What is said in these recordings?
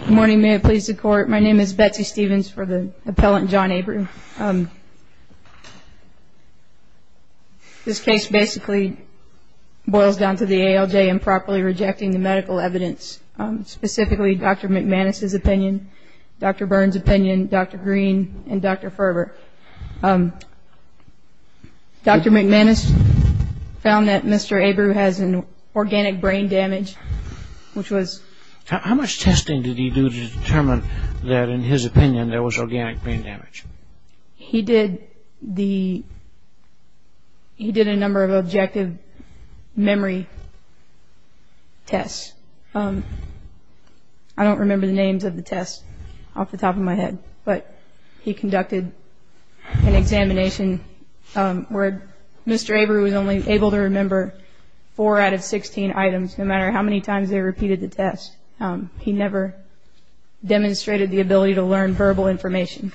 Good morning, may it please the court. My name is Betsy Stevens for the appellant John Abreu. This case basically boils down to the ALJ improperly rejecting the medical evidence, specifically Dr. McManus's opinion, Dr. Byrne's opinion, Dr. Green, and Dr. Ferber. Dr. McManus found that Mr. Abreu has an organic brain damage, which was… How much testing did he do to determine that, in his opinion, there was organic brain damage? He did a number of objective memory tests. I don't remember the names of the tests off the top of my head, but he conducted an examination where Mr. Abreu was only able to remember four out of 16 items, no matter how many times they repeated the test. He never demonstrated the ability to learn verbal information.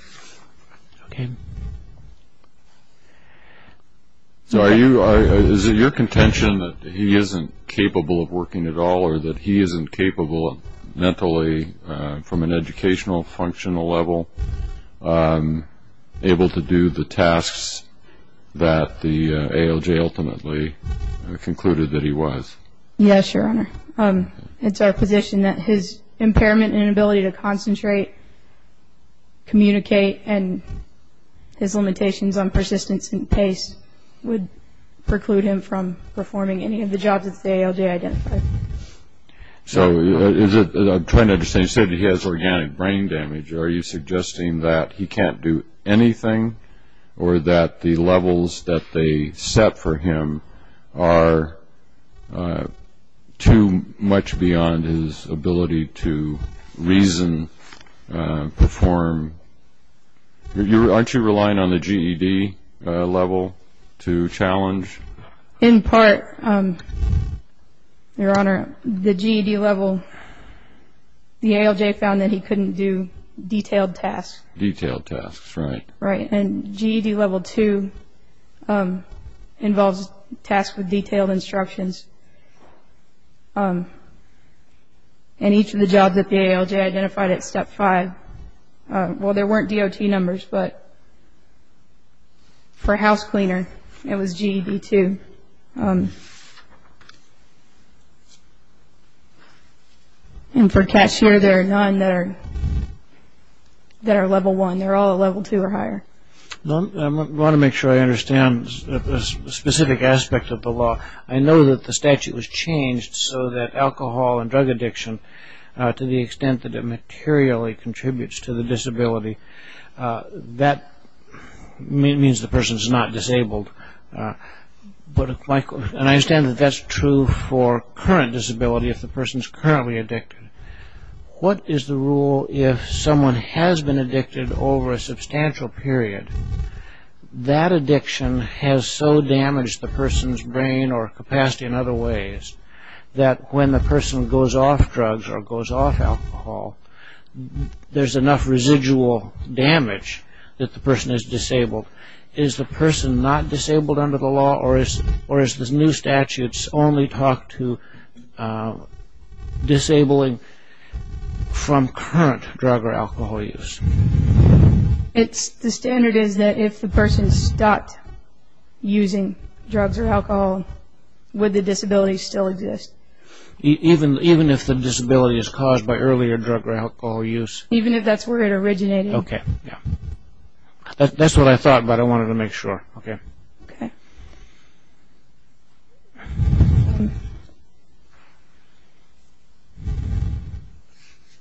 So is it your contention that he isn't capable of working at all, or that he isn't capable mentally from an educational functional level, able to do the tasks that the ALJ ultimately concluded that he was? Yes, Your Honor. It's our position that his impairment and inability to concentrate, communicate, and his limitations on persistence and pace would preclude him from performing any of the jobs that the ALJ identified. So I'm trying to understand. You said he has organic brain damage. Are you suggesting that he can't do anything or that the levels that they set for him are too much beyond his ability to reason, perform? Aren't you relying on the GED level to challenge? In part, Your Honor, the GED level, the ALJ found that he couldn't do detailed tasks. Detailed tasks, right. And GED level 2 involves tasks with detailed instructions. And each of the jobs that the ALJ identified at step 5, well, there weren't DOT numbers, but for house cleaner it was GED 2. And for cashier, there are none that are level 1. I mean, they're all level 2 or higher. I want to make sure I understand a specific aspect of the law. I know that the statute was changed so that alcohol and drug addiction, to the extent that it materially contributes to the disability, that means the person is not disabled. And I understand that that's true for current disability if the person is currently addicted. What is the rule if someone has been addicted over a substantial period? That addiction has so damaged the person's brain or capacity in other ways that when the person goes off drugs or goes off alcohol, there's enough residual damage that the person is disabled. Is the person not disabled under the law or is the new statutes only talk to disabling from current drug or alcohol use? The standard is that if the person stopped using drugs or alcohol, would the disability still exist? Even if the disability is caused by earlier drug or alcohol use? Even if that's where it originated. That's what I thought, but I wanted to make sure.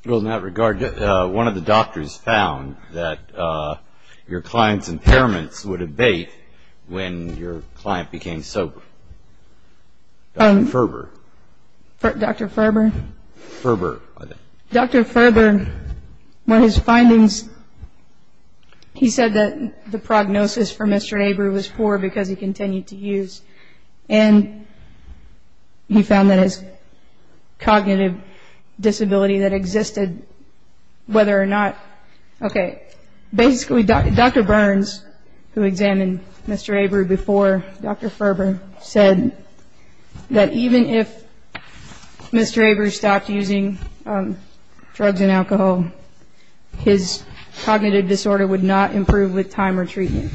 In that regard, one of the doctors found that your client's impairments would abate when your client became sober. Dr. Ferber. Dr. Ferber? Ferber. He said that the prognosis for Mr. Abreu was poor because he continued to use. And he found that his cognitive disability that existed, whether or not... Okay. Basically, Dr. Burns, who examined Mr. Abreu before Dr. Ferber, said that even if Mr. Abreu stopped using drugs and alcohol, his cognitive disorder would not improve with time or treatment.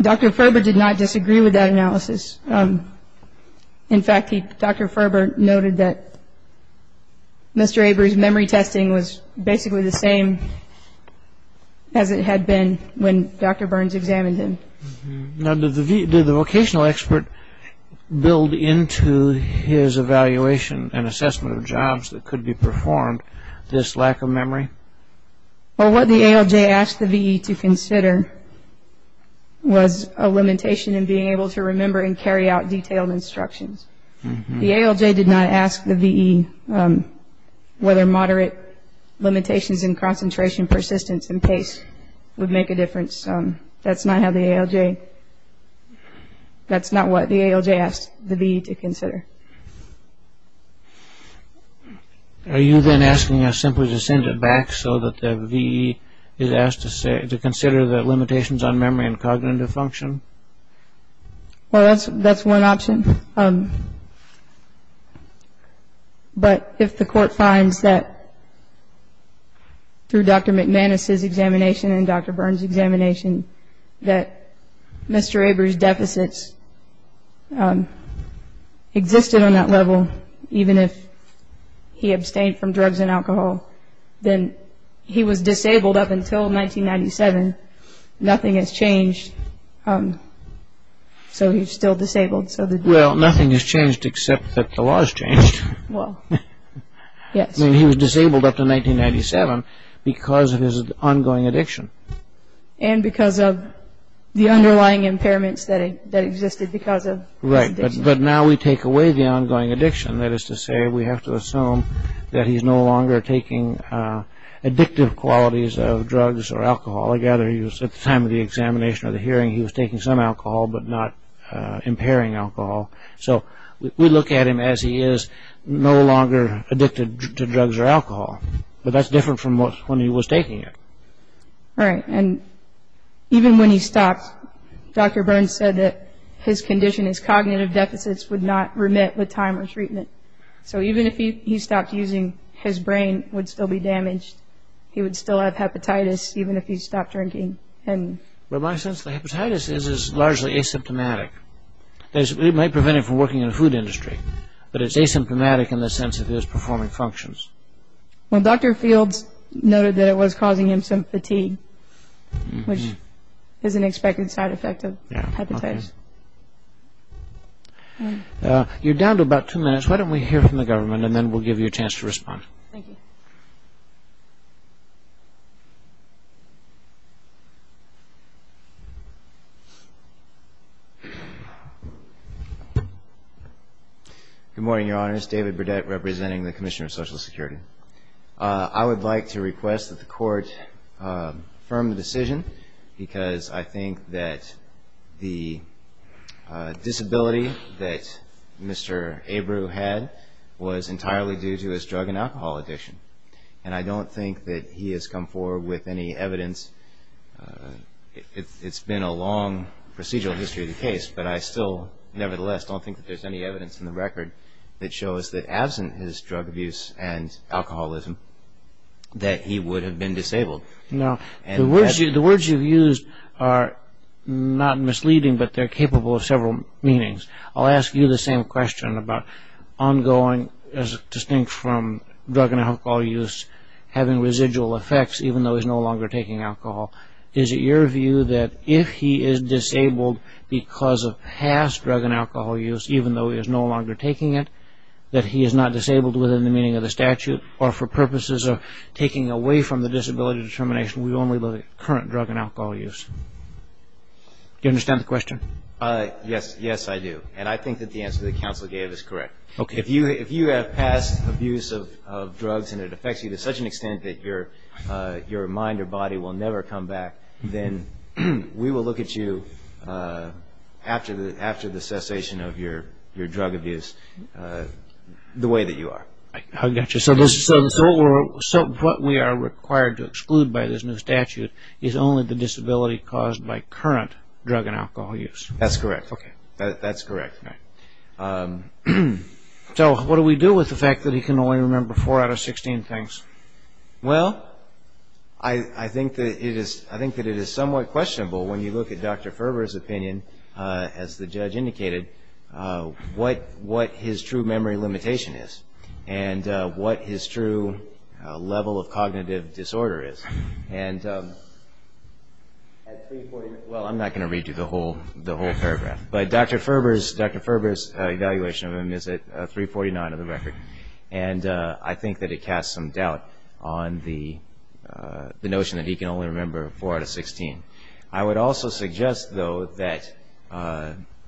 Dr. Ferber did not disagree with that analysis. In fact, Dr. Ferber noted that Mr. Abreu's memory testing was basically the same as it had been when Dr. Burns examined him. Now, did the vocational expert build into his evaluation and assessment of jobs that could be performed this lack of memory? Well, what the ALJ asked the VE to consider was a limitation in being able to remember and carry out detailed instructions. The ALJ did not ask the VE whether moderate limitations in concentration, persistence, and pace would make a difference. That's not how the ALJ... That's not what the ALJ asked the VE to consider. Are you then asking us simply to send it back so that the VE is asked to consider the limitations on memory and cognitive function? Well, that's one option. But if the court finds that through Dr. McManus' examination and Dr. Burns' examination that Mr. Abreu's deficits existed on that level, even if he abstained from drugs and alcohol, then he was disabled up until 1997. Nothing has changed, so he's still disabled. Well, nothing has changed except that the law has changed. I mean, he was disabled up to 1997 because of his ongoing addiction. And because of the underlying impairments that existed because of his addiction. Right, but now we take away the ongoing addiction. That is to say, we have to assume that he's no longer taking addictive qualities of drugs or alcohol. I gather at the time of the examination or the hearing, he was taking some alcohol but not impairing alcohol. So we look at him as he is no longer addicted to drugs or alcohol. But that's different from when he was taking it. Right, and even when he stopped, Dr. Burns said that his condition, his cognitive deficits would not remit with time or treatment. So even if he stopped using, his brain would still be damaged. He would still have hepatitis even if he stopped drinking. In my sense, the hepatitis is largely asymptomatic. It might prevent him from working in the food industry, but it's asymptomatic in the sense of his performing functions. Well, Dr. Fields noted that it was causing him some fatigue, which is an expected side effect of hepatitis. You're down to about two minutes. Judge, why don't we hear from the government and then we'll give you a chance to respond. Thank you. Good morning, Your Honors. David Burdett representing the Commissioner of Social Security. I would like to request that the Court affirm the decision because I think that the disability that Mr. Abreu had was entirely due to his drug and alcohol addiction. And I don't think that he has come forward with any evidence. It's been a long procedural history of the case, but I still nevertheless don't think that there's any evidence in the record that shows that absent his drug abuse and alcoholism that he would have been disabled. The words you've used are not misleading, but they're capable of several meanings. I'll ask you the same question about ongoing, distinct from drug and alcohol use, having residual effects even though he's no longer taking alcohol. Is it your view that if he is disabled because of past drug and alcohol use, even though he is no longer taking it, that he is not disabled within the meaning of the statute or for purposes of taking away from the disability determination with only the current drug and alcohol use? Do you understand the question? Yes, yes, I do. And I think that the answer that counsel gave is correct. If you have past abuse of drugs and it affects you to such an extent that your mind or body will never come back, then we will look at you after the cessation of your drug abuse the way that you are. I got you. So what we are required to exclude by this new statute is only the disability caused by current drug and alcohol use. That's correct. Okay. That's correct. So what do we do with the fact that he can only remember four out of 16 things? Well, I think that it is somewhat questionable when you look at Dr. Ferber's opinion, as the judge indicated, what his true memory limitation is and what his true level of cognitive disorder is. Well, I'm not going to read you the whole paragraph, but Dr. Ferber's evaluation of him is at 349 on the record, and I think that it casts some doubt on the notion that he can only remember four out of 16. I would also suggest, though, that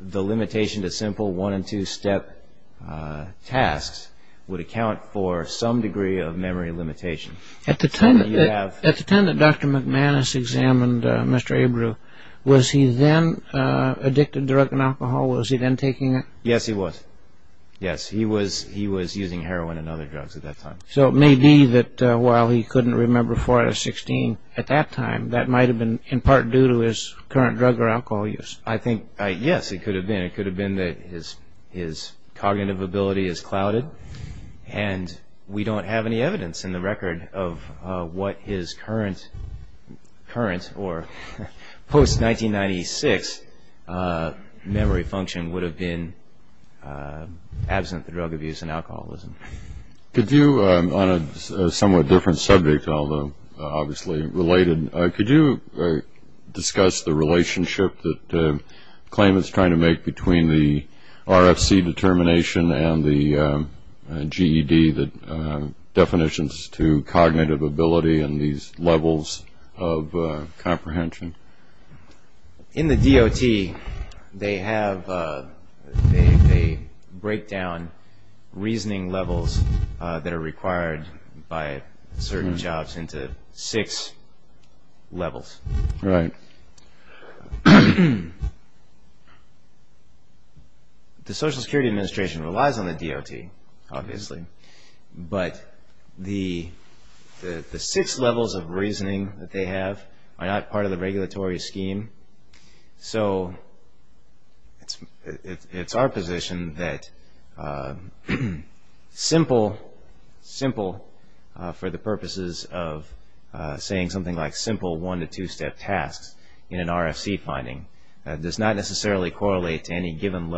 the limitation to simple one- and two-step tasks would account for some degree of memory limitation. At the time that Dr. McManus examined Mr. Abreu, was he then addicted to drug and alcohol? Was he then taking it? Yes, he was. Yes, he was using heroin and other drugs at that time. So it may be that while he couldn't remember four out of 16 at that time, that might have been in part due to his current drug or alcohol use. I think, yes, it could have been. It could have been that his cognitive ability is clouded, and we don't have any evidence in the record of what his current or post-1996 memory function would have been, absent the drug abuse and alcoholism. Could you, on a somewhat different subject, although obviously related, could you discuss the relationship that claimants try to make between the RFC determination and the GED definitions to cognitive ability and these levels of comprehension? In the DOT, they break down reasoning levels that are required by certain jobs into six levels. Right. The Social Security Administration relies on the DOT, obviously, but the six levels of reasoning that they have are not part of the regulatory scheme. So it's our position that simple, simple for the purposes of saying something like simple one- to two-step tasks in an RFC finding, does not necessarily correlate to any given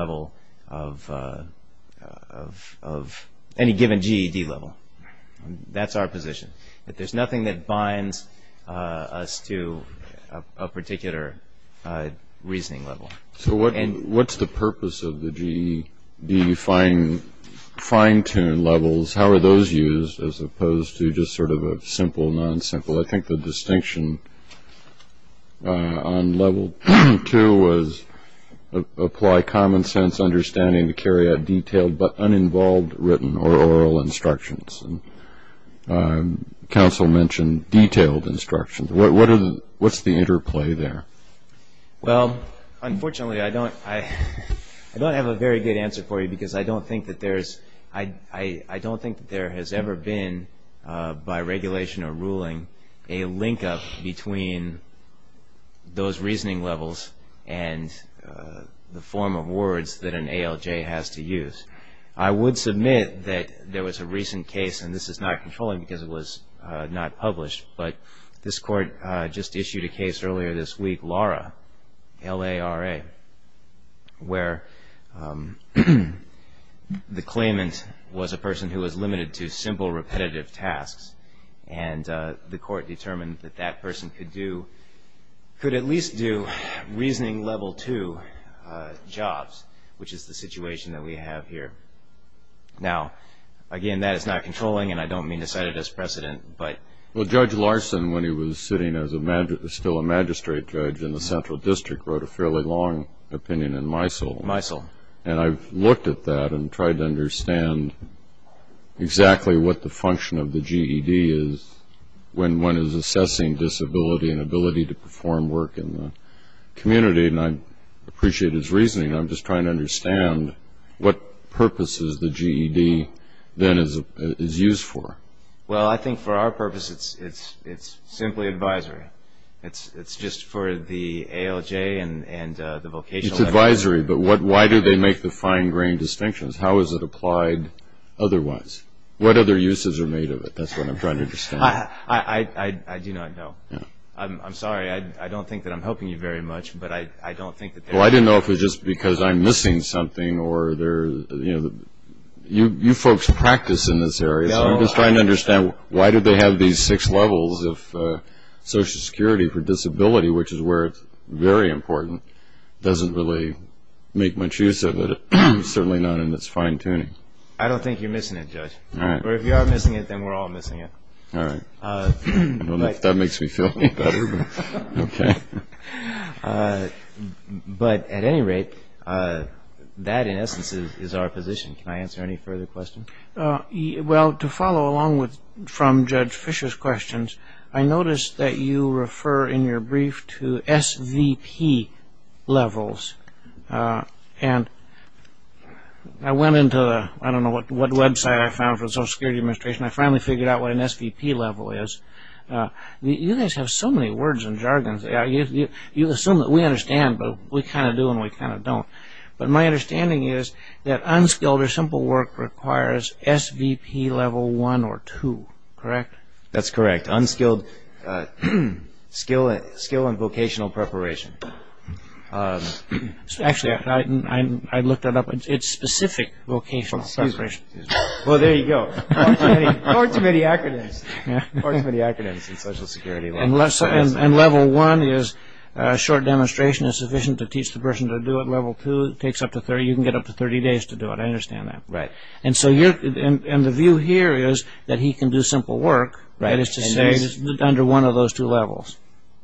GED level. That's our position, that there's nothing that binds us to a particular reasoning level. So what's the purpose of the GED fine-tuned levels? How are those used as opposed to just sort of a simple, non-simple? I think the distinction on level two was apply common sense understanding to carry out detailed but uninvolved written or oral instructions. Counsel mentioned detailed instructions. What's the interplay there? Well, unfortunately, I don't have a very good answer for you, because I don't think that there has ever been, by regulation or ruling, a link-up between those reasoning levels and the form of words that an ALJ has to use. I would submit that there was a recent case, and this is not controlling because it was not published, but this court just issued a case earlier this week, LARA, L-A-R-A, where the claimant was a person who was limited to simple, repetitive tasks, and the court determined that that person could at least do reasoning level two jobs, which is the situation that we have here. Now, again, that is not controlling, and I don't mean to set it as precedent. Well, Judge Larson, when he was sitting as still a magistrate judge in the central district, wrote a fairly long opinion in MISL. MISL. And I've looked at that and tried to understand exactly what the function of the GED is when one is assessing disability and ability to perform work in the community, and I appreciate his reasoning. I'm just trying to understand what purpose is the GED then is used for. Well, I think for our purpose it's simply advisory. It's just for the ALJ and the vocational level. It's advisory, but why do they make the fine-grained distinctions? How is it applied otherwise? What other uses are made of it? That's what I'm trying to understand. I do not know. I'm sorry. I don't think that I'm helping you very much, but I don't think that they are. Well, I didn't know if it was just because I'm missing something or, you know, you folks practice in this area. I'm just trying to understand why do they have these six levels of social security for disability, which is where it's very important. It doesn't really make much use of it, certainly not in its fine-tuning. I don't think you're missing it, Judge. Or if you are missing it, then we're all missing it. All right. I don't know if that makes me feel any better, but okay. But at any rate, that in essence is our position. Can I answer any further questions? Well, to follow along from Judge Fischer's questions, I noticed that you refer in your brief to SVP levels. And I went into the I don't know what website I found for the Social Security Administration. I finally figured out what an SVP level is. You guys have so many words and jargons. You assume that we understand, but we kind of do and we kind of don't. But my understanding is that unskilled or simple work requires SVP level one or two, correct? That's correct. Unskilled skill and vocational preparation. Actually, I looked it up. It's specific vocational preparation. Well, there you go. Far too many acronyms. Far too many acronyms in Social Security. And level one is short demonstration is sufficient to teach the person to do it. Level two takes up to 30. You can get up to 30 days to do it. I understand that. Right. And the view here is that he can do simple work. That is to say under one of those two levels.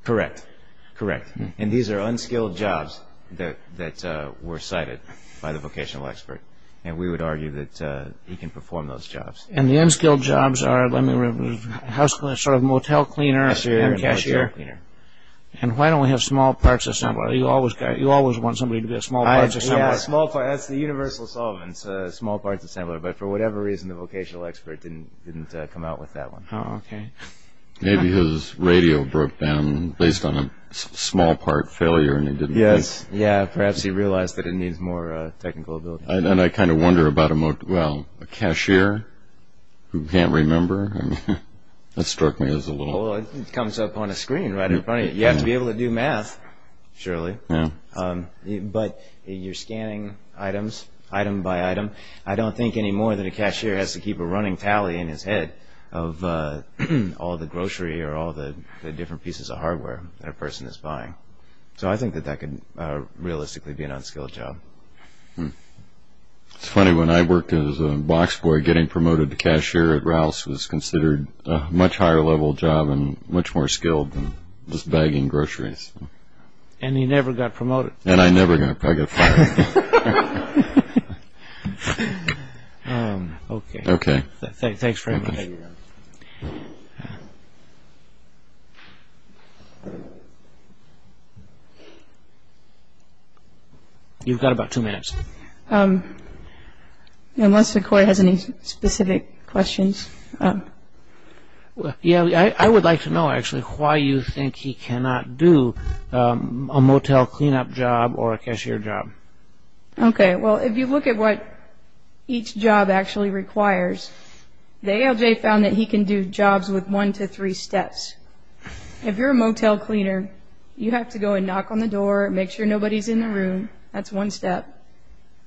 Correct. Correct. And these are unskilled jobs that were cited by the vocational expert. And we would argue that he can perform those jobs. And the unskilled jobs are sort of motel cleaner and cashier. And why don't we have small parts assembler? You always want somebody to be a small parts assembler. Yeah, that's the universal solvent, small parts assembler. But for whatever reason, the vocational expert didn't come out with that one. Oh, okay. Maybe his radio broke down based on a small part failure. Yes. Yeah, perhaps he realized that it needs more technical ability. And I kind of wonder about a cashier who can't remember. That struck me as a little. Well, it comes up on a screen right in front of you. You have to be able to do math, surely. Yeah. But you're scanning items, item by item. I don't think anymore that a cashier has to keep a running tally in his head of all the grocery or all the different pieces of hardware that a person is buying. So I think that that could realistically be an unskilled job. It's funny, when I worked as a box boy, getting promoted to cashier at Rouse was considered a much higher level job and much more skilled than just bagging groceries. And you never got promoted. And I never got promoted. I got fired. Okay. Okay. Thanks very much. You've got about two minutes. Unless the court has any specific questions. Yeah, I would like to know, actually, why you think he cannot do a motel cleanup job or a cashier job. Okay. Well, if you look at what each job actually requires, the ALJ found that he can do jobs with one to three steps. If you're a motel cleaner, you have to go and knock on the door, make sure nobody's in the room. That's one step.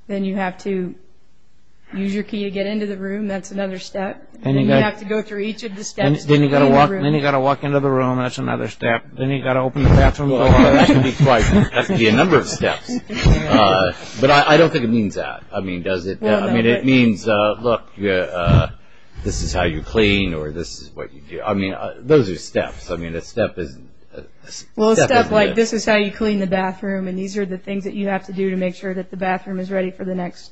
Then you have to use your key to get into the room. That's another step. Then you have to go through each of the steps to get into the room. Then you've got to walk into the room. That's another step. Then you've got to open the bathroom door. That could be twice. That could be a number of steps. But I don't think it means that. I mean, does it? I mean, it means, look, this is how you clean or this is what you do. I mean, those are steps. I mean, a step isn't this. Well, a step like this is how you clean the bathroom, and these are the things that you have to do to make sure that the bathroom is ready for the next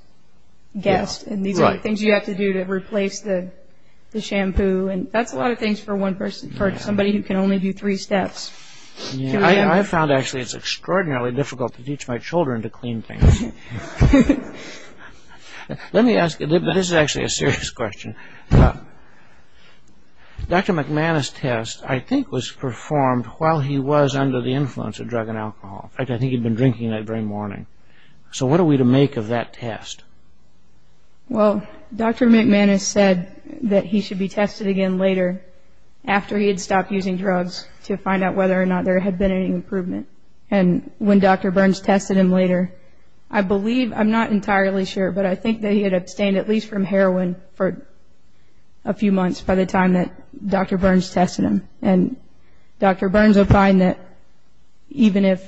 guest. And these are the things you have to do to replace the shampoo. That's a lot of things for somebody who can only do three steps. I found, actually, it's extraordinarily difficult to teach my children to clean things. Let me ask you, this is actually a serious question. Dr. McManus' test, I think, was performed while he was under the influence of drug and alcohol. In fact, I think he'd been drinking that very morning. So what are we to make of that test? Well, Dr. McManus said that he should be tested again later, after he had stopped using drugs, to find out whether or not there had been any improvement. And when Dr. Burns tested him later, I believe, I'm not entirely sure, but I think that he had abstained at least from heroin for a few months by the time that Dr. Burns tested him. And Dr. Burns opined that even if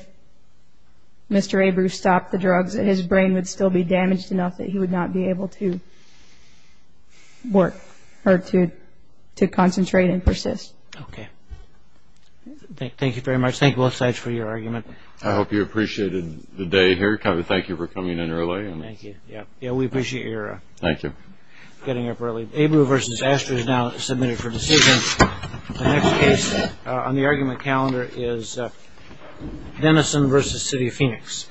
Mr. Abreu stopped the drugs, that his brain would still be damaged enough that he would not be able to work or to concentrate and persist. Okay. Thank you very much. Thank you both sides for your argument. I hope you appreciated the day here. Thank you for coming in early. Thank you. Yeah, we appreciate your getting up early. Abreu v. Astor is now submitted for decision. The next case on the argument calendar is Denison v. City of Phoenix.